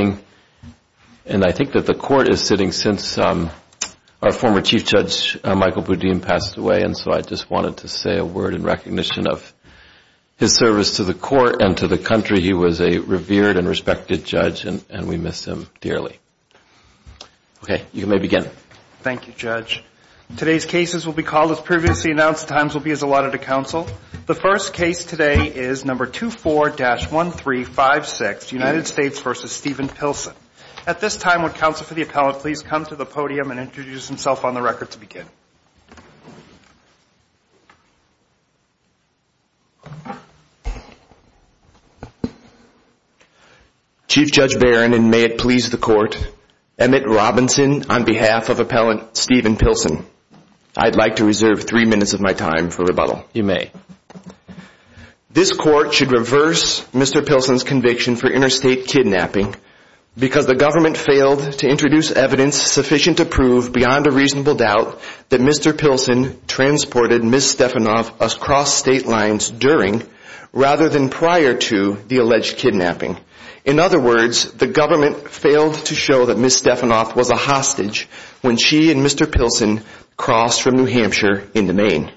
and I think that the court is sitting since our former Chief Judge Michael Boudin passed away and so I just wanted to say a word in recognition of his service to the court and to the country. He was a revered and respected judge and and we miss him dearly. Okay you may begin. Thank you Judge. Today's cases will be called as previously announced times will be as allotted to counsel. The first At this time would counsel for the appellant please come to the podium and introduce himself on the record to begin. Chief Judge Barron and may it please the court, Emmett Robinson on behalf of Appellant Steven Pilsen. I'd like to reserve three minutes of my time for rebuttal. You may. This court should reverse Mr. Pilsen's conviction for interstate kidnapping because the government failed to introduce evidence sufficient to prove beyond a reasonable doubt that Mr. Pilsen transported Ms. Stefanoff across state lines during rather than prior to the alleged kidnapping. In other words the government failed to show that Ms. Stefanoff was a hostage when she and Mr. Pilsen crossed from New Hampshire into Maine.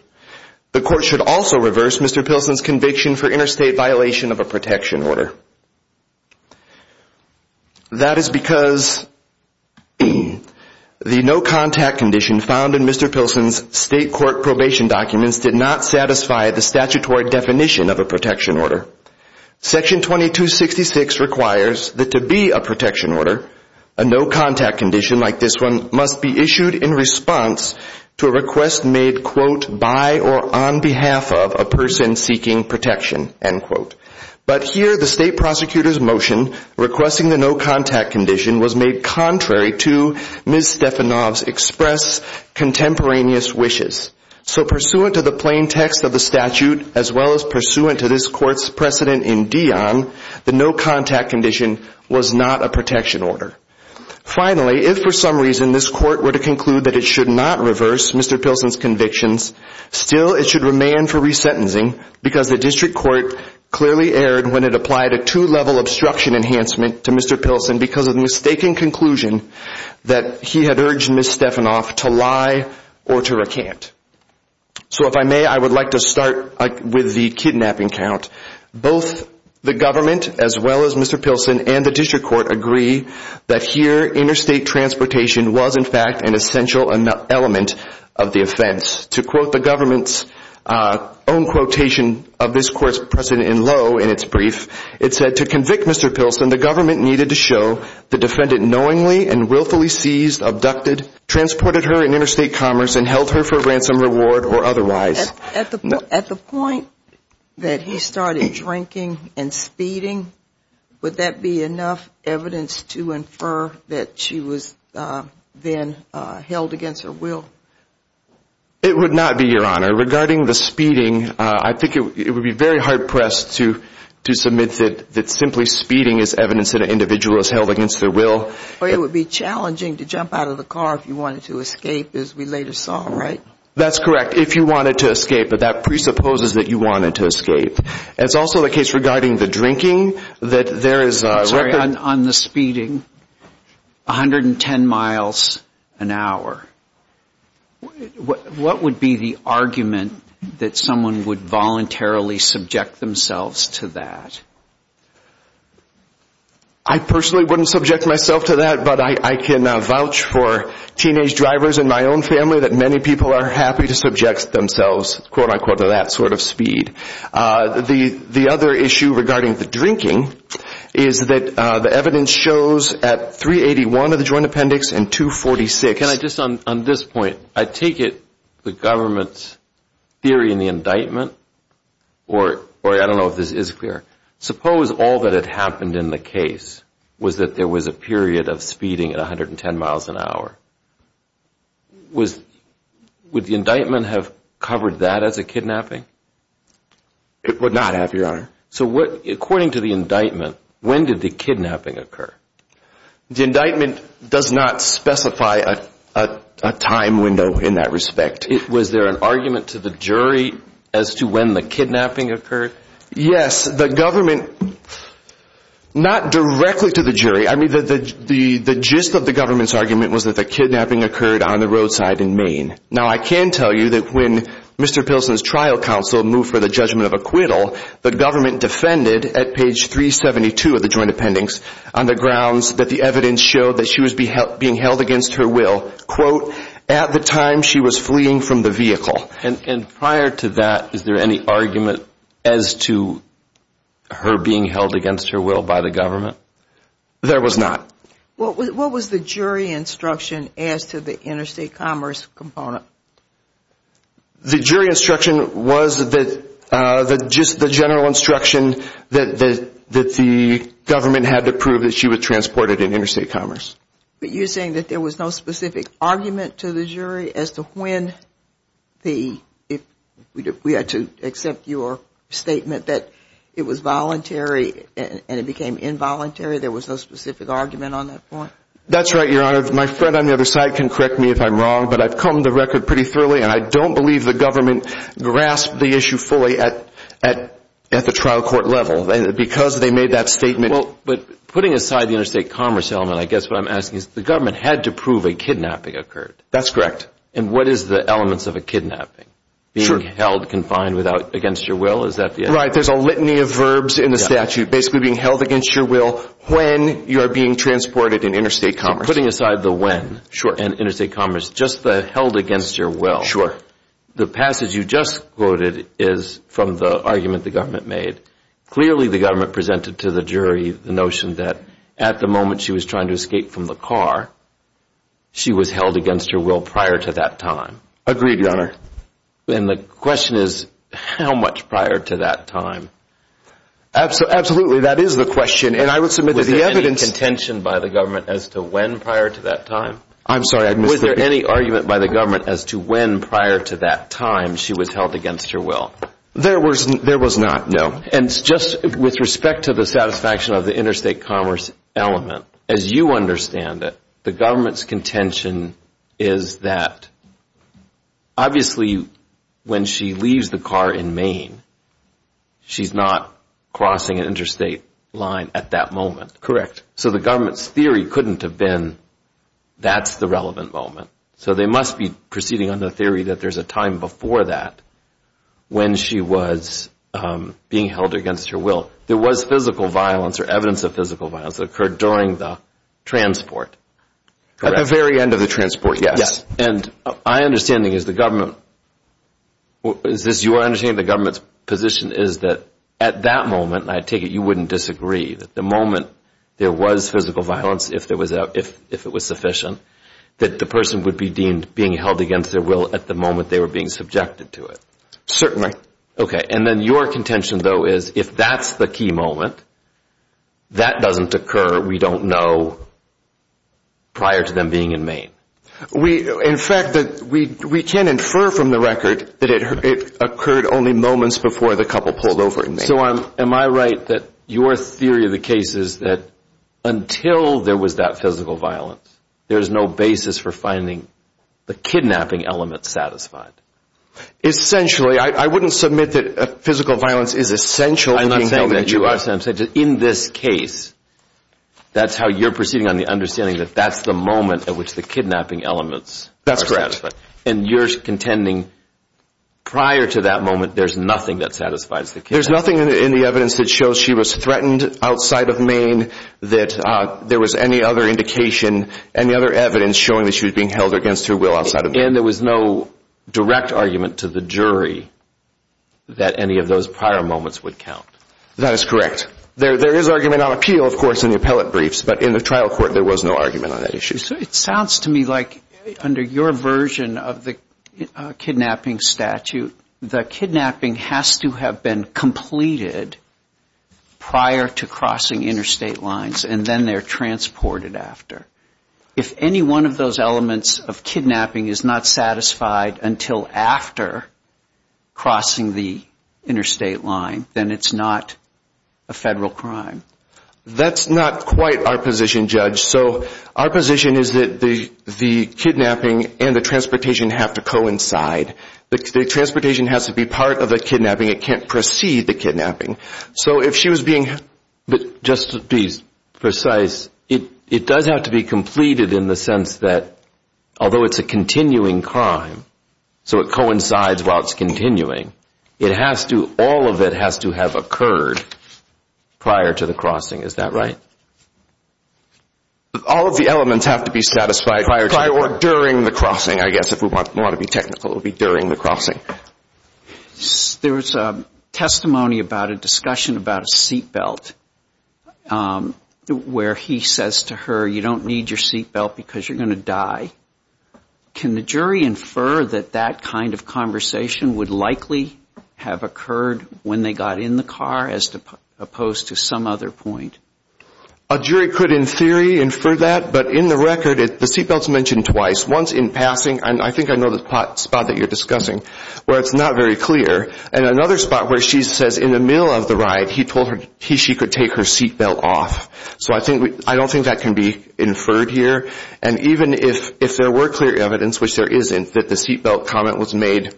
The court should also reverse Mr. Pilsen's conviction for interstate violation of a protection order. That is because the no contact condition found in Mr. Pilsen's state court probation documents did not satisfy the statutory definition of a protection order. Section 2266 requires that to be a protection order a no contact condition like this one must be issued in response to a request made quote by or on behalf of a person seeking protection end quote. But here the state prosecutor's motion requesting the no contact condition was made contrary to Ms. Stefanoff's express contemporaneous wishes. So pursuant to the plain text of the statute as well as pursuant to this court's precedent in Dion the no contact condition was not a protection order. Finally if for some reason this court were to conclude that it should not reverse Mr. Pilsen's convictions still it should remain for sentencing because the district court clearly erred when it applied a two level obstruction enhancement to Mr. Pilsen because of mistaken conclusion that he had urged Ms. Stefanoff to lie or to recant. So if I may I would like to start with the kidnapping count. Both the government as well as Mr. Pilsen and the district court agree that here interstate transportation was in fact an essential element of the offense. To quote the government's own quotation of this court's precedent in low in its brief it said to convict Mr. Pilsen the government needed to show the defendant knowingly and willfully seized, abducted, transported her in interstate commerce and held her for ransom reward or otherwise. At the point that he started drinking and speeding would that be enough evidence to infer that she was then held against her will? It would not be your honor regarding the speeding I think it would be very hard-pressed to to submit that that simply speeding is evidence that an individual is held against their will. It would be challenging to jump out of the car if you wanted to escape as we later saw right? That's correct if you wanted to escape but that presupposes that you wanted to escape. It's also the case regarding the drinking that there is a record on the speeding 110 miles an hour. What would be the argument that someone would voluntarily subject themselves to that? I personally wouldn't subject myself to that but I can vouch for teenage drivers in my own family that many people are happy to subject themselves to that sort of speed. The the other issue regarding the drinking is that the evidence shows at 381 of the Joint Appendix and 246. Can I just on this point I take it the government's theory in the indictment or or I don't know if this is clear suppose all that had happened in the case was that there was a period of speeding at 110 miles an hour. Would the indictment have covered that as a kidnapping? It would not have your honor. So what according to the indictment when did the kidnapping occur? The indictment does not specify a time window in that respect. Was there an argument to the jury as to when the kidnapping occurred? Yes the government not directly to the jury I mean that the the the gist of the government's argument was that the kidnapping occurred on the roadside in Maine. Now I can tell you that when Mr. Pilsen's trial counsel moved for the judgment of acquittal the government defended at page 372 of the Joint Appendix on the grounds that the evidence showed that she was being held against her will quote at the time she was fleeing from the vehicle. And prior to that is there any argument as to her being held against her will by the government? There was not. What was the jury instruction as to the interstate commerce component? The jury instruction was that that just the general instruction that the government had to prove that she was transported in interstate commerce. But you're saying that there was no specific argument to the jury as to when the if we had to accept your statement that it was voluntary and it became involuntary there was no specific argument on that point? That's right your honor my friend on the other side can correct me if I'm wrong but I've come the record pretty thoroughly and I don't believe the government grasped the issue fully at at at the trial court level because they made that statement. But putting aside the interstate commerce element I guess what I'm asking is the government had to prove a kidnapping occurred? That's correct. And what is the elements of a kidnapping? Sure. Being held confined without against your will is that the right? There's a litany of verbs in the statute basically being held against your will when you're being transported in interstate commerce. Putting aside the when sure and interstate commerce just the held against your will. Sure. The passage you just quoted is from the argument the government made. Clearly the government presented to the jury the notion that at the moment she was trying to escape from the car she was held against her will prior to that time. Agreed your honor. Then the question is how much prior to that time? Absolutely that is the question and I would submit to the evidence. Was there any contention by the government as to when prior to that time? I'm sorry I misread. Was there any argument by the government as to when prior to that time she was held against her will? There wasn't there was not. No. And just with respect to the satisfaction of the interstate commerce element as you understand it the government's contention is that obviously when she leaves the car in Maine she's not crossing an interstate line at that moment. Correct. So the government's theory couldn't have been that's the relevant moment. So they must be proceeding on the theory that there's a time before that when she was being held against her will. There was physical violence or evidence of physical violence occurred during the transport. At the very end of the transport yes. And I understanding is the government is this your understanding the government's position is that at that moment I take it you wouldn't disagree that the moment there was physical violence if there was out if if it was sufficient that the person would be deemed being held against their will at the moment they were being subjected to it. Certainly. Okay and then your contention though is if that's the key moment that doesn't occur we don't know prior to them being in Maine. We in fact that we we can infer from the record that it occurred only moments before the couple pulled over in Maine. So I'm am I right that your theory of the case is that until there was that physical violence there's no basis for finding the kidnapping element satisfied. Essentially I wouldn't submit that physical violence is essential. I'm not saying that you are saying that in this case that's how you're proceeding on the understanding that that's the moment at which the kidnapping elements. That's correct. And you're contending prior to that moment there's nothing that satisfies the case. There's nothing in the evidence that shows she was threatened outside of Maine that there was any other indication any other evidence showing that she was being held against her will outside of Maine. And there was no direct argument to the jury that any of those prior moments would count. That is correct. There there is argument on appeal of course in the appellate briefs but in the trial court there was no argument on that issue. So it sounds to me like under your version of the kidnapping statute the kidnapping has to have been completed prior to crossing interstate lines and then they're transported after. If any one of those elements of kidnapping is not satisfied until after crossing the interstate line then it's not a federal crime. That's not quite our position judge. So our position is that the the kidnapping and the transportation have to coincide. The transportation has to be part of the kidnapping. It can't precede the kidnapping. So if she was being but just to be precise it it does have to be completed in the sense that although it's a continuing crime so it coincides while it's continuing it has to all of it has to have occurred prior to the crossing. Is that right? All of the elements have to be satisfied prior or during the crossing I guess if we want to be technical it'll be during the crossing. There was a testimony about a discussion about a seatbelt where he says to her you don't need your seatbelt because you're gonna die. Can the jury infer that that kind of conversation would likely have occurred when they got in the car as opposed to some other point? A jury could in theory infer that but in the record the seatbelts mentioned twice. Once in passing and I think I know the spot that you're discussing where it's not very clear and another spot where she says in the middle of the ride he told her he she could take her seatbelt off. So I think I don't think that can be inferred here and even if if there were clear evidence which there isn't that the seatbelt comment was made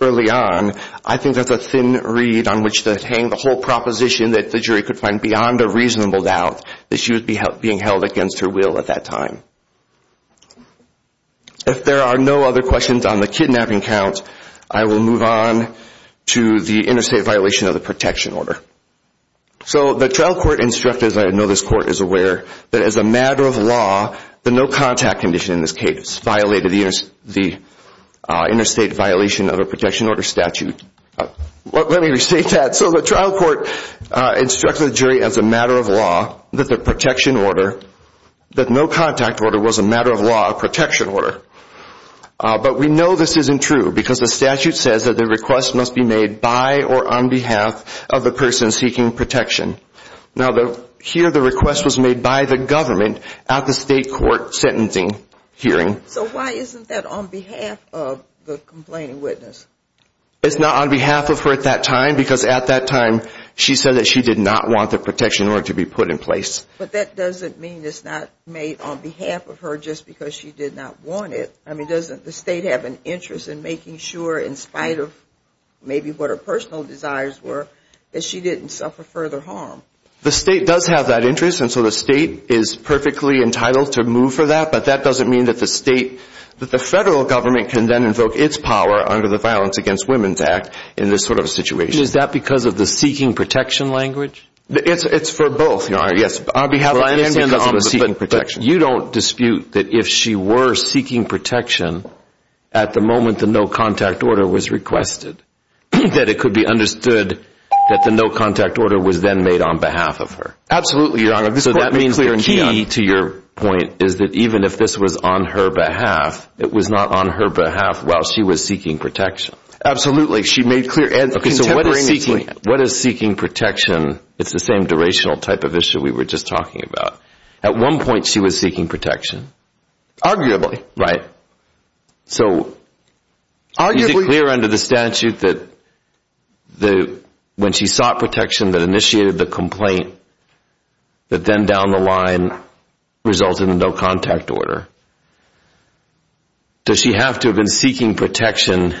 early on I think that's a thin reed on which to hang the whole proposition that the jury could find beyond a reasonable doubt that she would be held being held against her will at that time. If there are no other questions on the kidnapping count I will move on to the interstate violation of the protection order. So the trial court instructed as I know this court is aware that as a matter of law the no contact condition in this case violated the interstate violation of a protection order statute. Let me restate that so the trial court instructed jury as a matter of law that the protection order that no contact order was a matter of law a protection order but we know this isn't true because the statute says that the request must be made by or on behalf of the person seeking protection. Now the here the request was made by the It's not on behalf of her at that time because at that time she said that she did not want the protection order to be put in place. But that doesn't mean it's not made on behalf of her just because she did not want it. I mean doesn't the state have an interest in making sure in spite of maybe what her personal desires were that she didn't suffer further harm? The state does have that interest and so the state is perfectly entitled to move for that but that doesn't mean that the state that the federal government can then invoke its power under the Violence Against Women's Act in this sort of situation. Is that because of the seeking protection language? It's it's for both your honor yes on behalf of I understand because it was seeking protection. You don't dispute that if she were seeking protection at the moment the no contact order was requested that it could be understood that the no contact order was then made on behalf of her? Absolutely your honor. So that means the key to your point is that even if this was on her behalf it was not on her behalf while she was seeking protection? Absolutely she made clear and... Okay so what is seeking protection? It's the same durational type of issue we were just talking about. At one point she was seeking protection? Arguably. Right. So is it clear under the statute that when she sought protection that initiated the complaint that then down the line resulted in no contact order? Does she have to have been seeking protection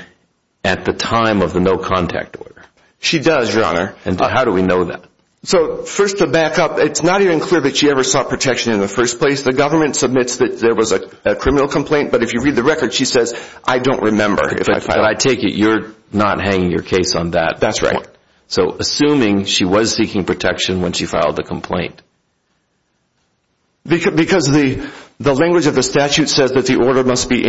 at the time of the no contact order? She does your honor. And how do we know that? So first to back up it's not even clear that she ever sought protection in the first place. The government submits that there was a criminal complaint but if you read the record she says I don't remember if I take it you're not hanging your case on that. That's right. So assuming she was seeking protection when she filed the complaint. Because the the language of the statute says that the order must be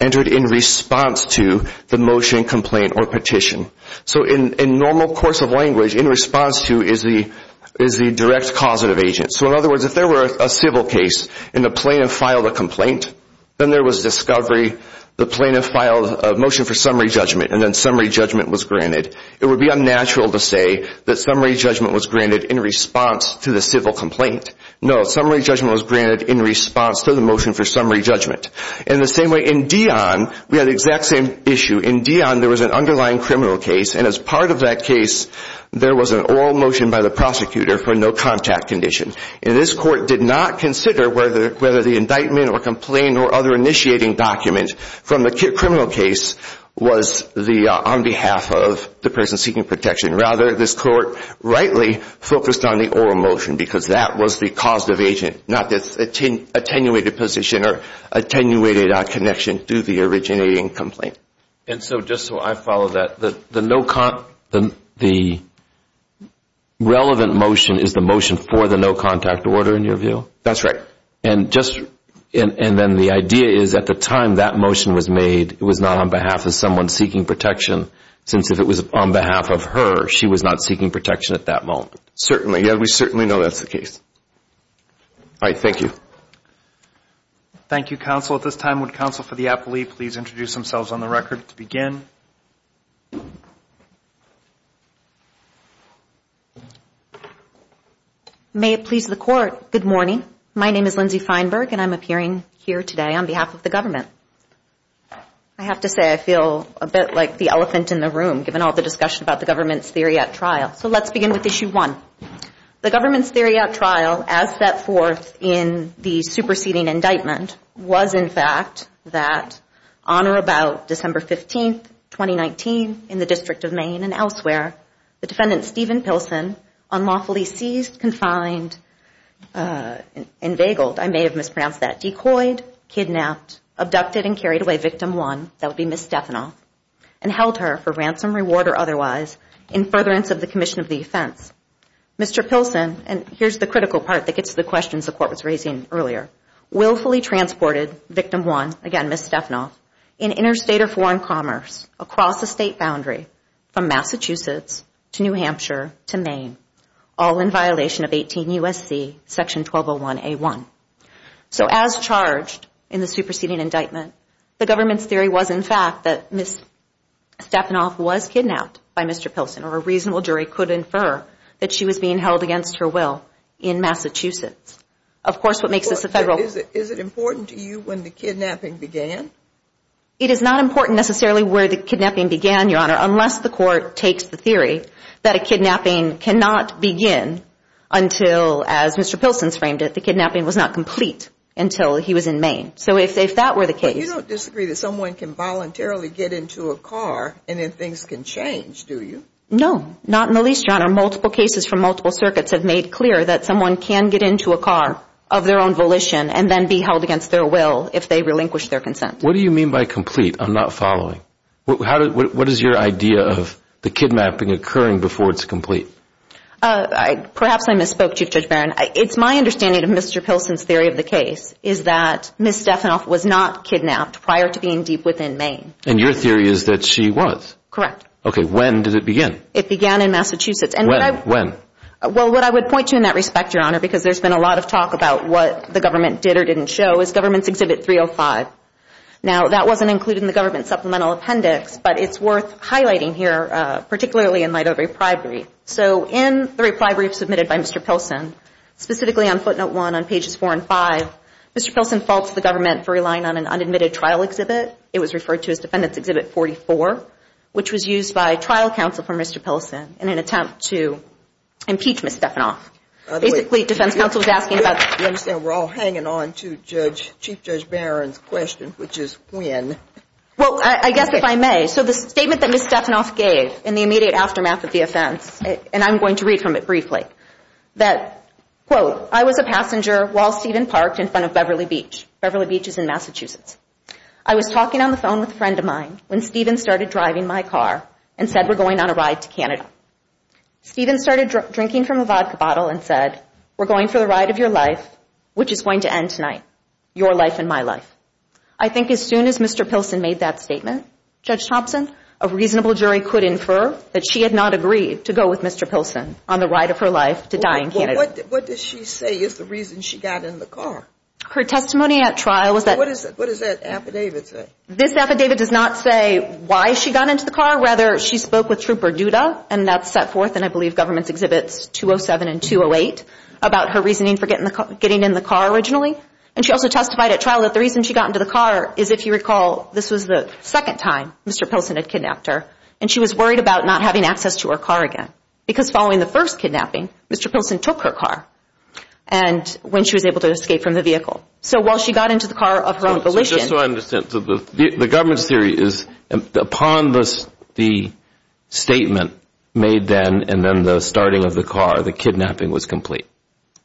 entered in response to the motion complaint or petition. So in a normal course of language in response to is the is the direct causative agent. So in other words if there were a civil case and the plaintiff filed a complaint then there was discovery the plaintiff filed a motion for summary judgment and then summary judgment was granted. It would be natural to say that summary judgment was granted in response to the civil complaint. No summary judgment was granted in response to the motion for summary judgment. In the same way in Dion we had the exact same issue. In Dion there was an underlying criminal case and as part of that case there was an oral motion by the prosecutor for no contact condition. And this court did not consider whether whether the indictment or complaint or other initiating document from the criminal case was the on behalf of the person seeking protection. Rather this court rightly focused on the oral motion because that was the causative agent not this attenuated position or attenuated connection to the originating complaint. And so just so I follow that the no con the relevant motion is the motion for the no contact order in your view? That's right. And just and and then the idea is at the time that motion was made it was not on behalf of someone seeking protection since if it was on behalf of her she was not seeking protection at that moment. Certainly yeah we certainly know that's the case. All right thank you. Thank you counsel. At this time would counsel for the appellee please introduce themselves on the record to begin. May it please the court good morning my name is Lindsay Feinberg and I'm appearing here today on behalf of the government. I have to say I feel a bit like the elephant in the room given all the discussion about the government's theory at trial. So let's begin with issue one. The government's theory at trial as set forth in the superseding indictment was in fact that on or about December 15th 2019 in the District of Maine and elsewhere the defendant Stephen Pilsen unlawfully seized, confined, and vagueled I may have mispronounced that, decoyed, kidnapped, abducted, and carried away victim one that would be Miss Stefanoff and held her for ransom reward or otherwise in furtherance of the Commission of the offense. Mr. Pilsen and here's the critical part that gets the questions the court was raising earlier willfully transported victim one again Miss Stefanoff in interstate or foreign commerce across the state boundary from Massachusetts to New Hampshire to Maine all in violation of 18 USC section 1201 a1. So as charged in the superseding indictment the government's theory was in fact that Miss Stefanoff was kidnapped by Mr. Pilsen or a reasonable jury could infer that she was being held against her will in Massachusetts. Of course what makes this a federal... Is it important to you when the kidnapping began? It is not important necessarily where the kidnapping began your honor unless the court takes the theory that a kidnapping cannot begin until as Mr. Pilsen's framed it the kidnapping was not complete until he was in Maine. So if that were the case... You don't disagree that someone can voluntarily get into a car and then things can change do you? No not in the least your honor. Multiple cases from multiple circuits have made clear that someone can get into a car of their own volition and then be held against their will if they relinquish their consent. What do you mean by complete? I'm not following. What is your idea of the kidnapping occurring before it's complete? Perhaps I misspoke Chief Judge Barron. It's my understanding of Mr. Pilsen's theory of the case is that Ms. Stefanoff was not kidnapped prior to being deep within Maine. And your theory is that she was? Correct. Okay when did it begin? It began in Massachusetts. When? Well what I would point you in that respect your honor because there's been a lot of talk about what the government did or didn't show is government's exhibit 305. Now that wasn't included in the government supplemental appendix but it's worth highlighting here particularly in light of a reply brief. So in the reply brief submitted by Mr. Pilsen specifically on footnote one on pages four and five Mr. Pilsen faults the government for relying on an unadmitted trial exhibit. It was referred to as defendants exhibit 44 which was used by trial counsel for Mr. Pilsen in an attempt to impeach Ms. Stefanoff. Basically defense counsel was asking about. You understand we're all hanging on to judge Chief Judge Barron's question which is when? Well I guess if I may so the statement that Ms. Stefanoff gave in the immediate aftermath of the offense and I'm going to read from it that quote I was a passenger while Stephen parked in front of Beverly Beach. Beverly Beach is in Massachusetts. I was talking on the phone with a friend of mine when Stephen started driving my car and said we're going on a ride to Canada. Stephen started drinking from a vodka bottle and said we're going for the ride of your life which is going to end tonight your life and my life. I think as soon as Mr. Pilsen made that statement Judge Thompson a reasonable jury could infer that she had not agreed to go with Mr. Pilsen on the ride of her life to die in Canada. What does she say is the reason she got in the car? Her testimony at trial was that. What does that affidavit say? This affidavit does not say why she got into the car rather she spoke with Trooper Duda and that's set forth and I believe government's exhibits 207 and 208 about her reasoning for getting in the car originally and she also testified at trial that the reason she got into the car is if you recall this was the second time Mr. Pilsen had kidnapped her and she was worried about not having access to her car again because following the first kidnapping Mr. Pilsen took her car and when she was able to escape from the vehicle. So while she got into the car of her own volition. The government's theory is upon this the statement made then and then the starting of the car the kidnapping was complete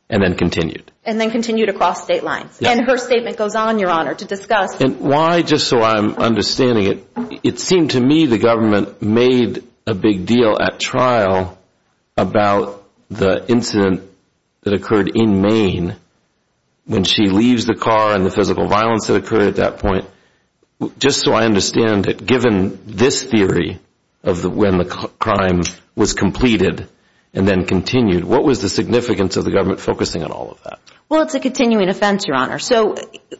and then continued. And then continued across state lines and her statement goes on your honor to discuss. And why just so I'm understanding it it seemed to me the government made a big deal at trial about the incident that occurred in Maine when she leaves the car and the physical violence that occurred at that point. Just so I understand it given this theory of the when the crime was completed and then continued what was the significance of the government focusing on all of that? Well it's a continuing offense your honor. So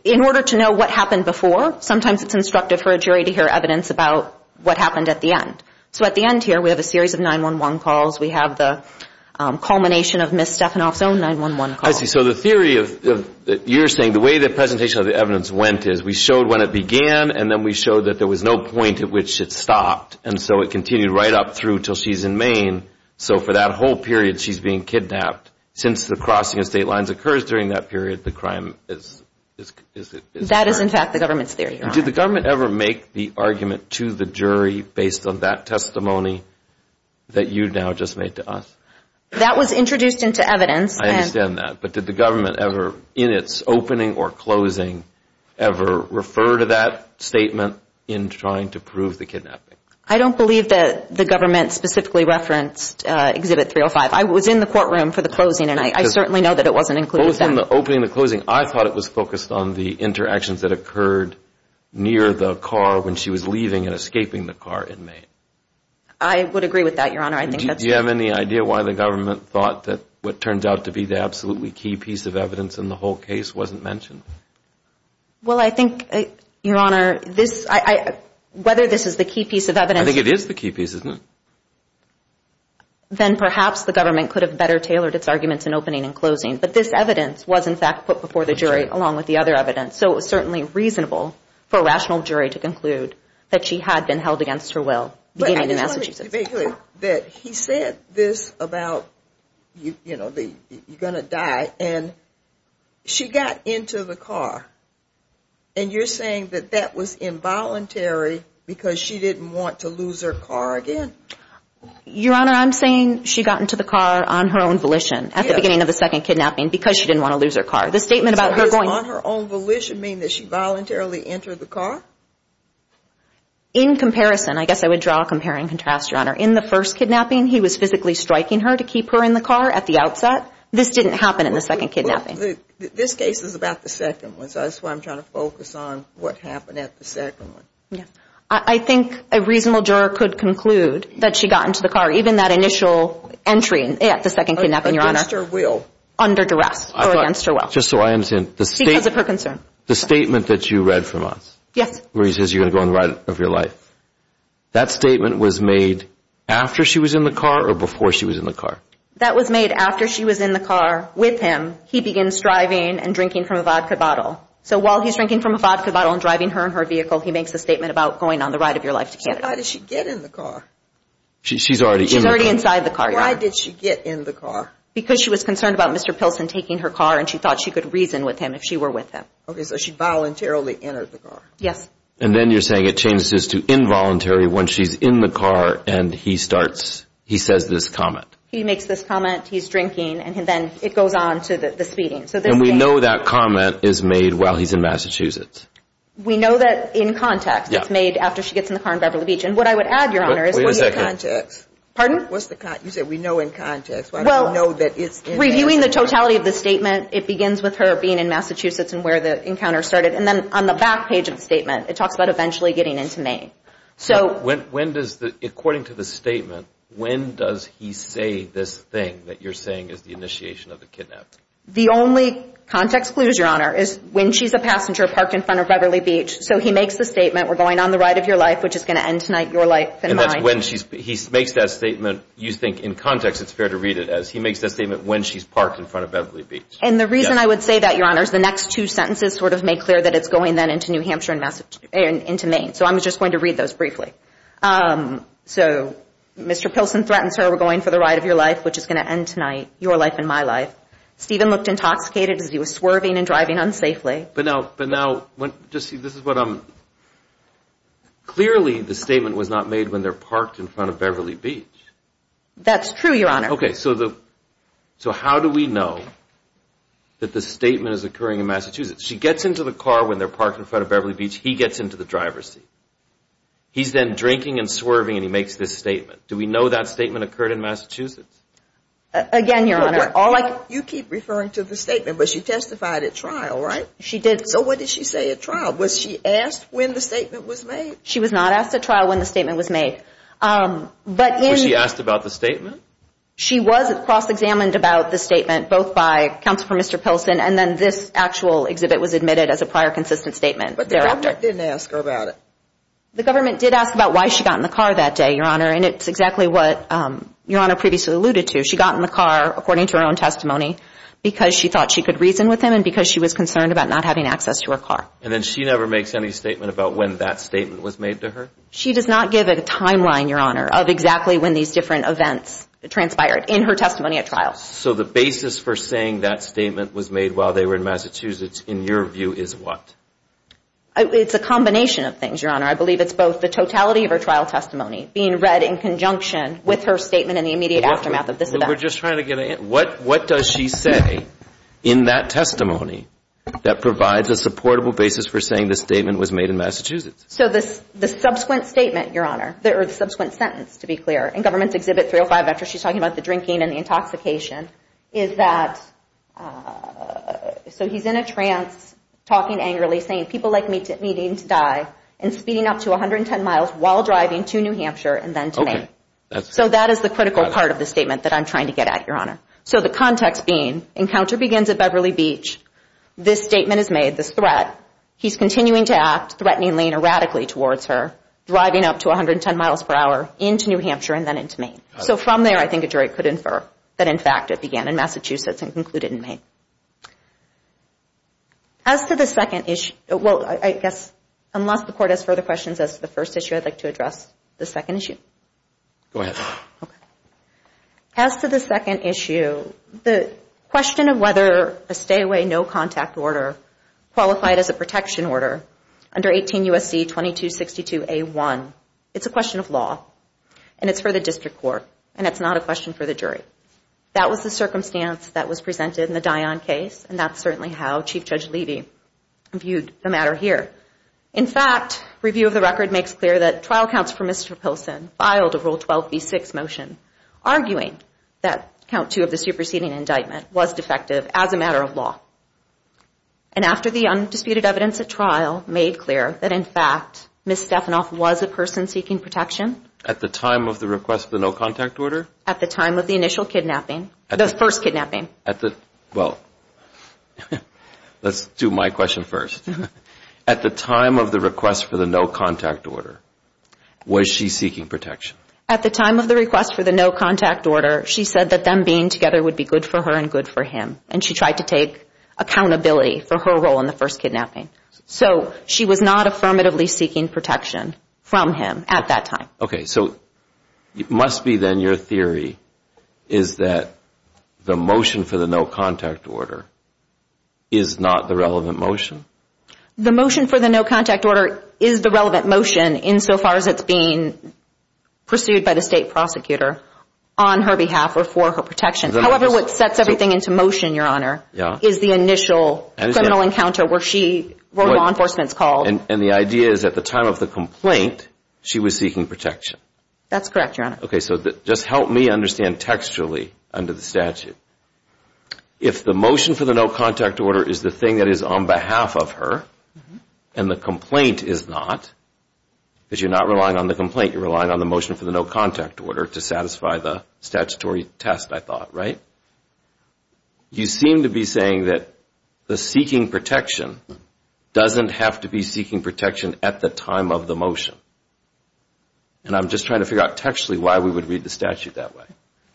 in order to know what happened before sometimes it's instructive for a jury to gather evidence about what happened at the end. So at the end here we have a series of 911 calls. We have the culmination of Ms. Stefanoff's own 911 calls. I see so the theory of you're saying the way the presentation of the evidence went is we showed when it began and then we showed that there was no point at which it stopped and so it continued right up through till she's in Maine. So for that whole period she's being kidnapped. Since the crossing of state lines occurs during that period the crime is. That is in fact the government's theory. Did the government ever make the argument to the jury based on that testimony that you now just made to us? That was introduced into evidence. I understand that but did the government ever in its opening or closing ever refer to that statement in trying to prove the kidnapping? I don't believe that the government specifically referenced Exhibit 305. I was in the courtroom for the closing and I certainly know that it wasn't included. In the opening the closing I thought it was focused on the interactions that occurred near the car when she was leaving and escaping the car in Maine. I would agree with that your honor. Do you have any idea why the government thought that what turns out to be the absolutely key piece of evidence in the whole case wasn't mentioned? Well I think your honor this I whether this is the key piece of evidence. I think it is the key piece isn't it? Then perhaps the government could have better tailored its arguments in opening and closing but this evidence was in fact put before the jury along with the other evidence. So it was certainly reasonable for a rational jury to conclude that she had been held against her will beginning in Massachusetts. He said this about you you know the you're gonna die and she got into the car and you're saying that that was involuntary because she didn't want to lose her car again? Your honor I'm saying she got into the car on her own volition at the beginning of the second kidnapping because she didn't want to lose her car. The statement about her going on her own volition mean that she voluntarily entered the car? In comparison I guess I would draw a compare and contrast your honor in the first kidnapping he was physically striking her to keep her in the car at the outset. This didn't happen in the second kidnapping. This case is about the second one so that's why I'm trying to focus on what happened at the second one. Yeah I think a reasonable juror could conclude that she got into the car even that initial entry at the second kidnapping your honor. Against her will. Under consent. Because of her concern. The statement that you read from us. Yes. Where he says you're gonna go on the ride of your life. That statement was made after she was in the car or before she was in the car? That was made after she was in the car with him. He begins driving and drinking from a vodka bottle. So while he's drinking from a vodka bottle and driving her in her vehicle he makes the statement about going on the ride of your life to Canada. So why did she get in the car? She's already in the car. She's already inside the car. Why did she get in the car? Because she was concerned about Mr. Pilsen taking her car and she thought she could reason with him if she were with him. Okay so she voluntarily entered the car. Yes. And then you're saying it changes to involuntary when she's in the car and he starts he says this comment. He makes this comment. He's drinking and then it goes on to the speeding. So then we know that comment is made while he's in Massachusetts. We know that in context it's made after she gets in the car in Beverly Beach and what I would add your honor is. Wait a second. What's the context? You said we know in context. Well reviewing the totality of the statement it begins with her being in Massachusetts and where the encounter started and then on the back page of the statement it talks about eventually getting into Maine. So when does the according to the statement when does he say this thing that you're saying is the initiation of the kidnap? The only context clues your honor is when she's a passenger parked in front of Beverly Beach. So he makes the statement we're going on the ride of your life which is going to end tonight your life and mine. And that's when he makes that statement you think in context it's fair to read it as he makes that statement when she's parked in front of Beverly Beach. And the reason I would say that your honor is the next two sentences sort of make clear that it's going then into New Hampshire and Massachusetts and into Maine. So I'm just going to read those briefly. So Mr. Pilsen threatens her we're going for the ride of your life which is going to end tonight your life and my life. Stephen looked intoxicated as he was swerving and driving unsafely. But now but now when just see this is what I'm. Clearly the statement was not made when they're parked in front of Beverly Beach. That's true your honor. Okay so the so how do we know that the statement is occurring in Massachusetts. She gets into the car when they're parked in front of Beverly Beach. He gets into the driver's seat. He's then drinking and swerving and he makes this statement. Do we know that statement occurred in Massachusetts? Again your honor. You keep referring to the statement but she testified at trial right? She did. So what did she say at trial? Was she asked when the statement was made? She was not asked at trial when the statement was made. But she asked about the statement? She was cross-examined about the statement both by counsel for Mr. Pilsen and then this actual exhibit was admitted as a prior consistent statement. But the government didn't ask her about it. The government did ask about why she got in the car that day your honor and it's exactly what your honor previously alluded to. She got in the car according to her own testimony because she thought she could reason with him and because she was concerned about not having access to her car. And then she never makes any statement about when that statement was made to her? She does not give a timeline your honor of exactly when these different events transpired in her testimony at trial. So the basis for saying that statement was made while they were in Massachusetts in your view is what? It's a combination of things your honor. I believe it's both the totality of her trial testimony being read in conjunction with her statement in the immediate aftermath of this event. We're just trying to get a hint. What what does she say in that testimony that provides a supportable basis for saying the statement was made in Massachusetts? So this the subsequent statement your honor there are subsequent sentence to be clear and government's exhibit 305 after she's talking about the drinking and the intoxication is that so he's in a trance talking angrily saying people like me to needing to die and speeding up to 110 miles while driving to New Hampshire and then to Maine. So that is the critical part of the statement that I'm trying to get at your honor. So the context being encounter begins at Beverly Beach. This statement is made this threat. He's continuing to act threateningly and erratically towards her driving up to 110 miles per hour into New Hampshire and then into Maine. So from there I think a jury could infer that in fact it began in Massachusetts and concluded in Maine. As to the second issue well I guess unless the court has further questions as the first issue I'd like to address the second issue. Go ahead. As to the second issue the question of whether a stay away no contact order qualified as a protection order under 18 U.S.C. 2262 a1 it's a question of law and it's for the district court and it's not a question for the jury. That was the circumstance that was presented in the Dion case and that's certainly how Chief Judge Levy viewed the matter here. In fact review of the record makes clear that trial counsel for Mr. Pilsen filed a rule 12b6 motion arguing that count two of the superseding indictment was defective as a matter of law. And after the undisputed evidence at trial made clear that in fact Ms. Stefanoff was a person seeking protection. At the time of the request for the no contact order? At the time of the initial kidnapping, the first kidnapping. At the well let's do my question first. At the time of the request for the no contact order was she seeking protection? At the time of the request for the no contact order she said that them being together would be good for her and good for him and she tried to take accountability for her role in the first kidnapping. So she was not affirmatively seeking protection from him at that time. Okay so it must be then your theory is that the motion for the no contact order is not the relevant motion? The motion for the no contact order is the relevant motion insofar as it's being pursued by the state prosecutor on her behalf or for her protection. However what sets everything into motion your honor is the initial encounter where she where law enforcement's called. And the idea is at the time of the complaint she was seeking protection? That's correct your honor. Okay so that just help me understand textually under the statute. If the motion for the no contact order is the thing that is on behalf of her and the complaint is not, because you're not relying on the complaint you're relying on the motion for the no contact order to satisfy the statutory test I thought right? You seem to be saying that the seeking protection doesn't have to be seeking protection at the time of the motion. And I'm just trying to figure out textually why we would read the statute that way.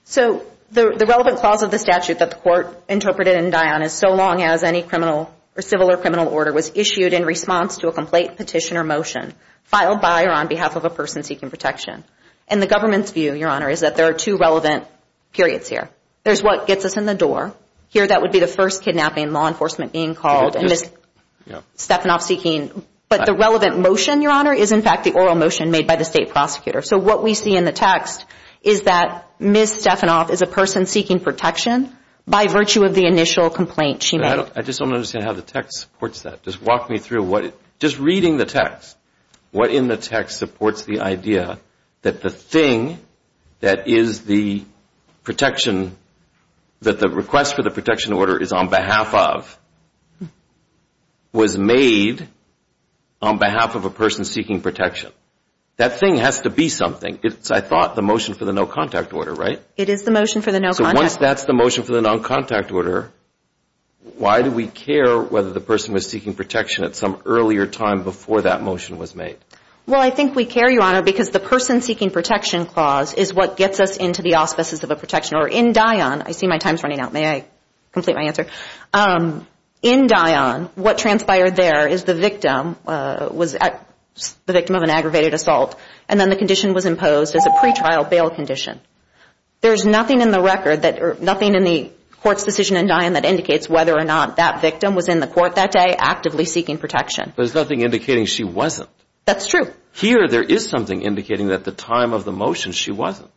So the relevant clause of the statute that the court interpreted in Dion is so long as any criminal or civil or criminal order was issued in response to a complaint petition or motion filed by or on behalf of a person seeking protection. And the government's view your honor is that there are two relevant periods here. There's what gets us in the door. Here that would be the first kidnapping law enforcement being called and Ms. Stefanoff seeking. But the relevant motion your honor is in fact the oral motion made by the state prosecutor. So what we see in the text is that Ms. Stefanoff is a person seeking protection by virtue of the initial complaint she made. I just don't understand how the text supports that. Just walk me through what it just reading the text. What in the text supports the idea that the thing that is the protection that the request for the protection order is on behalf of was made on behalf of a person seeking protection. That thing has to be something. It's I thought the motion for the no contact order right? It is the motion for the no contact. So once that's the motion for the non-contact order why do we care whether the person was seeking protection at some earlier time before that motion was made? Well I think we care your honor because the person seeking protection clause is what gets us into the auspices of a protection order. In Dion, I see my time's running out. May I complete my answer? In Dion what transpired there is the victim was the victim of an aggravated assault and then the condition was imposed as a pretrial bail condition. There's nothing in the record that or nothing in the court's decision in Dion that indicates whether or not that victim was in the court that day actively seeking protection. There's nothing indicating she wasn't. That's true. Here there is something indicating that the time of the motion she wasn't.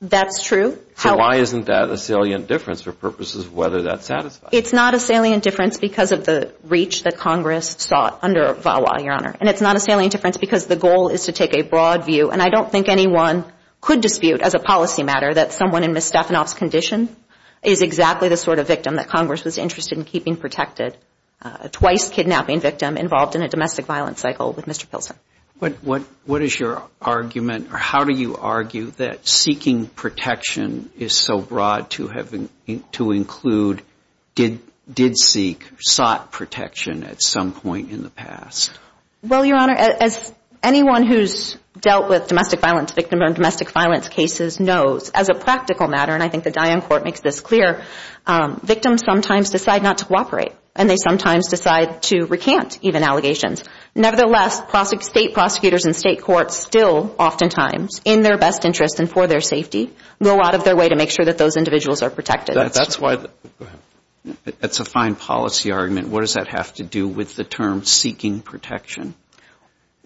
That's true. So why isn't that a salient difference for purposes whether that satisfies? It's not a salient difference because of the reach that Congress sought under VAWA your honor and it's not a salient difference because the goal is to take a broad view and I don't think anyone could dispute as a policy matter that someone in Ms. Stefanoff's condition is exactly the sort of victim that Congress was interested in keeping protected. A twice kidnapping victim involved in a domestic violence cycle with Mr. Pilsner. But what what is your argument or how do you argue that seeking protection is so broad to have to include did seek sought protection at some point in the past? Well your honor as anyone who's dealt with domestic violence victim and domestic violence cases knows as a practical matter and I think the Diane court makes this clear victims sometimes decide not to cooperate and they sometimes decide to recant even allegations. Nevertheless, state prosecutors and state courts still oftentimes in their best interest and for their safety go out of their way to make sure that those individuals are protected. That's why that's a fine policy argument. What does that have to do with the term seeking protection?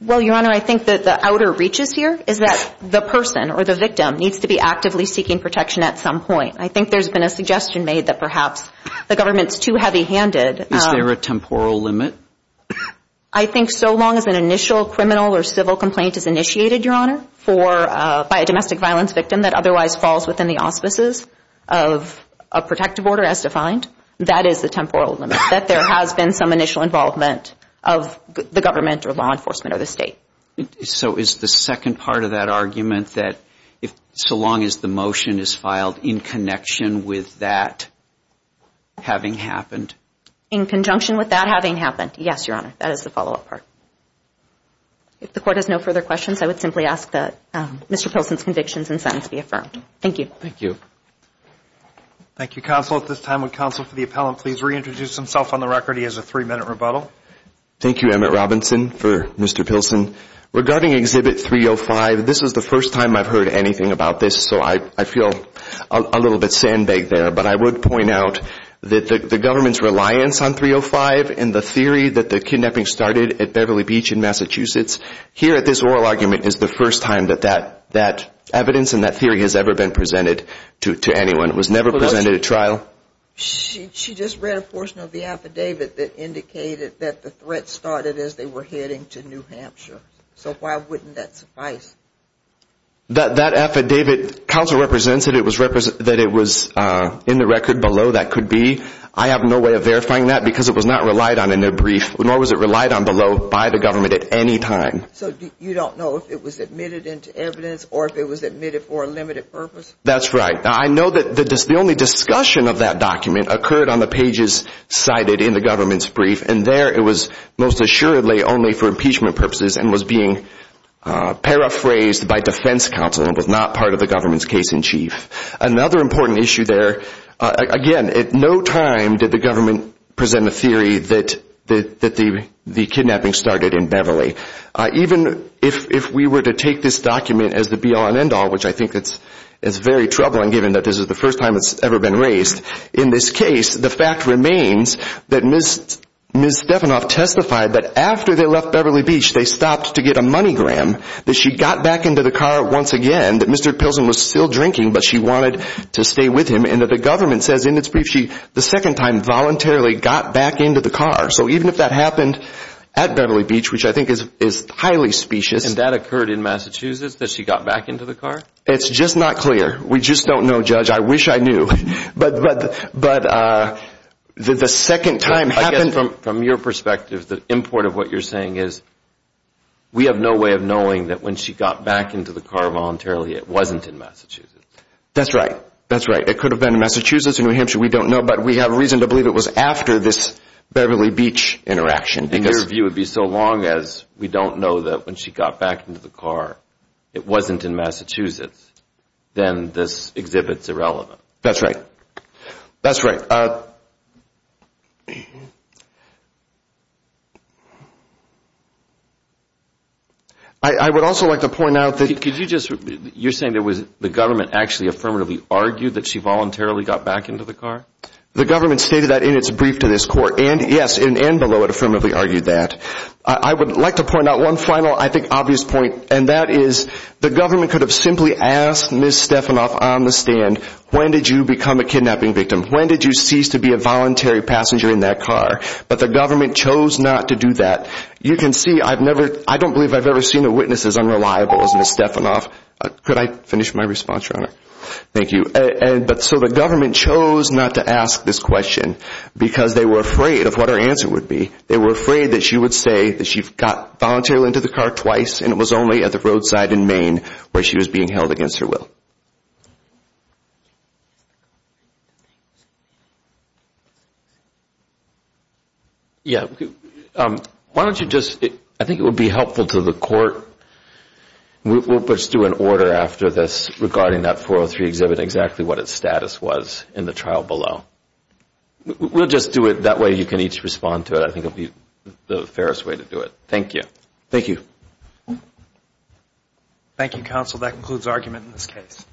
Well your honor I think that the outer reaches here is that the person or the victim needs to be actively seeking protection at some point. I think there's been a suggestion made that perhaps the government's too heavy-handed. Is there a temporal limit? I think so long as an initial criminal or civil complaint is initiated your honor for by a domestic violence victim that otherwise falls within the auspices of a protective order as defined that is the temporal limit. That there has been some initial involvement of the government or law enforcement or the state. So is the second part of that argument that if so long as the motion is filed in connection with that having happened? In conjunction with that having happened? Yes your honor that is the follow-up part. If the court has no further questions I would simply ask that Mr. Pilsen's convictions and sentence be affirmed. Thank you. Thank you. Thank you counsel at this time would counsel for the appellant please reintroduce himself on the record he has a three-minute rebuttal. Thank You Emmett Robinson for Mr. Pilsen. Regarding exhibit 305 this was the first time I've heard anything about this so I feel a little bit sandbagged there but I would point out that the government's reliance on 305 and the theory that the kidnapping started at Beverly Beach in Massachusetts here at this oral argument is the first time that that that evidence and that theory has ever been presented to anyone. It was never presented at trial. She just read a portion of the affidavit that indicated that the threat started as they were heading to New Hampshire so why wouldn't that suffice? That that affidavit counsel represents that it was represent that it was in the record below that could be I have no way of verifying that because it was not relied on in their brief nor was it relied on below by the government at any time. So you don't know if it was admitted into evidence or if it was admitted for a limited purpose? That's right I know that this the only discussion of that document occurred on the pages cited in the government's brief and there it was most assuredly only for impeachment purposes and was being paraphrased by defense counsel and was not part of the government's case-in-chief. Another important issue there again at no time did the government present a theory that that that the the kidnapping started in Beverly. Even if if we were to take this document as the be-all and end-all which I think that's it's very troubling given that this is the first time it's ever been raised. In this case the fact remains that Ms. Stefanoff testified that after they left Beverly Beach they stopped to get a money gram that she got back into the car once again that Mr. Pilsen was still drinking but she wanted to stay with him and that the government says in its brief she the second time voluntarily got back into the car. So even if that happened at Beverly Beach which I think is is highly specious. And that occurred in Massachusetts that she got back into the It's just not clear. We just don't know judge. I wish I knew but but but the second time happened. From your perspective the import of what you're saying is we have no way of knowing that when she got back into the car voluntarily it wasn't in Massachusetts. That's right that's right it could have been in Massachusetts or New Hampshire we don't know but we have a reason to believe it was after this Beverly Beach interaction. In your view it would be so long as we don't know that when she got back into the car it wasn't in Massachusetts then this exhibits irrelevant. That's right that's right. I would also like to point out that could you just you're saying there was the government actually affirmatively argued that she voluntarily got back into the car? The government stated that in its brief to this court and yes in and below it affirmatively argued that. I would like to point out one final I obvious point and that is the government could have simply asked Ms. Stefanoff on the stand when did you become a kidnapping victim? When did you cease to be a voluntary passenger in that car? But the government chose not to do that. You can see I've never I don't believe I've ever seen a witness as unreliable as Ms. Stefanoff. Could I finish my response your honor? Thank you and but so the government chose not to ask this question because they were afraid of what her answer would be. They were afraid that she would say that she got voluntarily into the car twice and it was only at the roadside in Maine where she was being held against her will. Yeah why don't you just I think it would be helpful to the court. We'll just do an order after this regarding that 403 exhibit exactly what its status was in the trial below. We'll just do it that way you can each respond to it. I think that'll be the fairest way to do it. Thank you. Thank you. Thank you counsel that concludes argument in this case.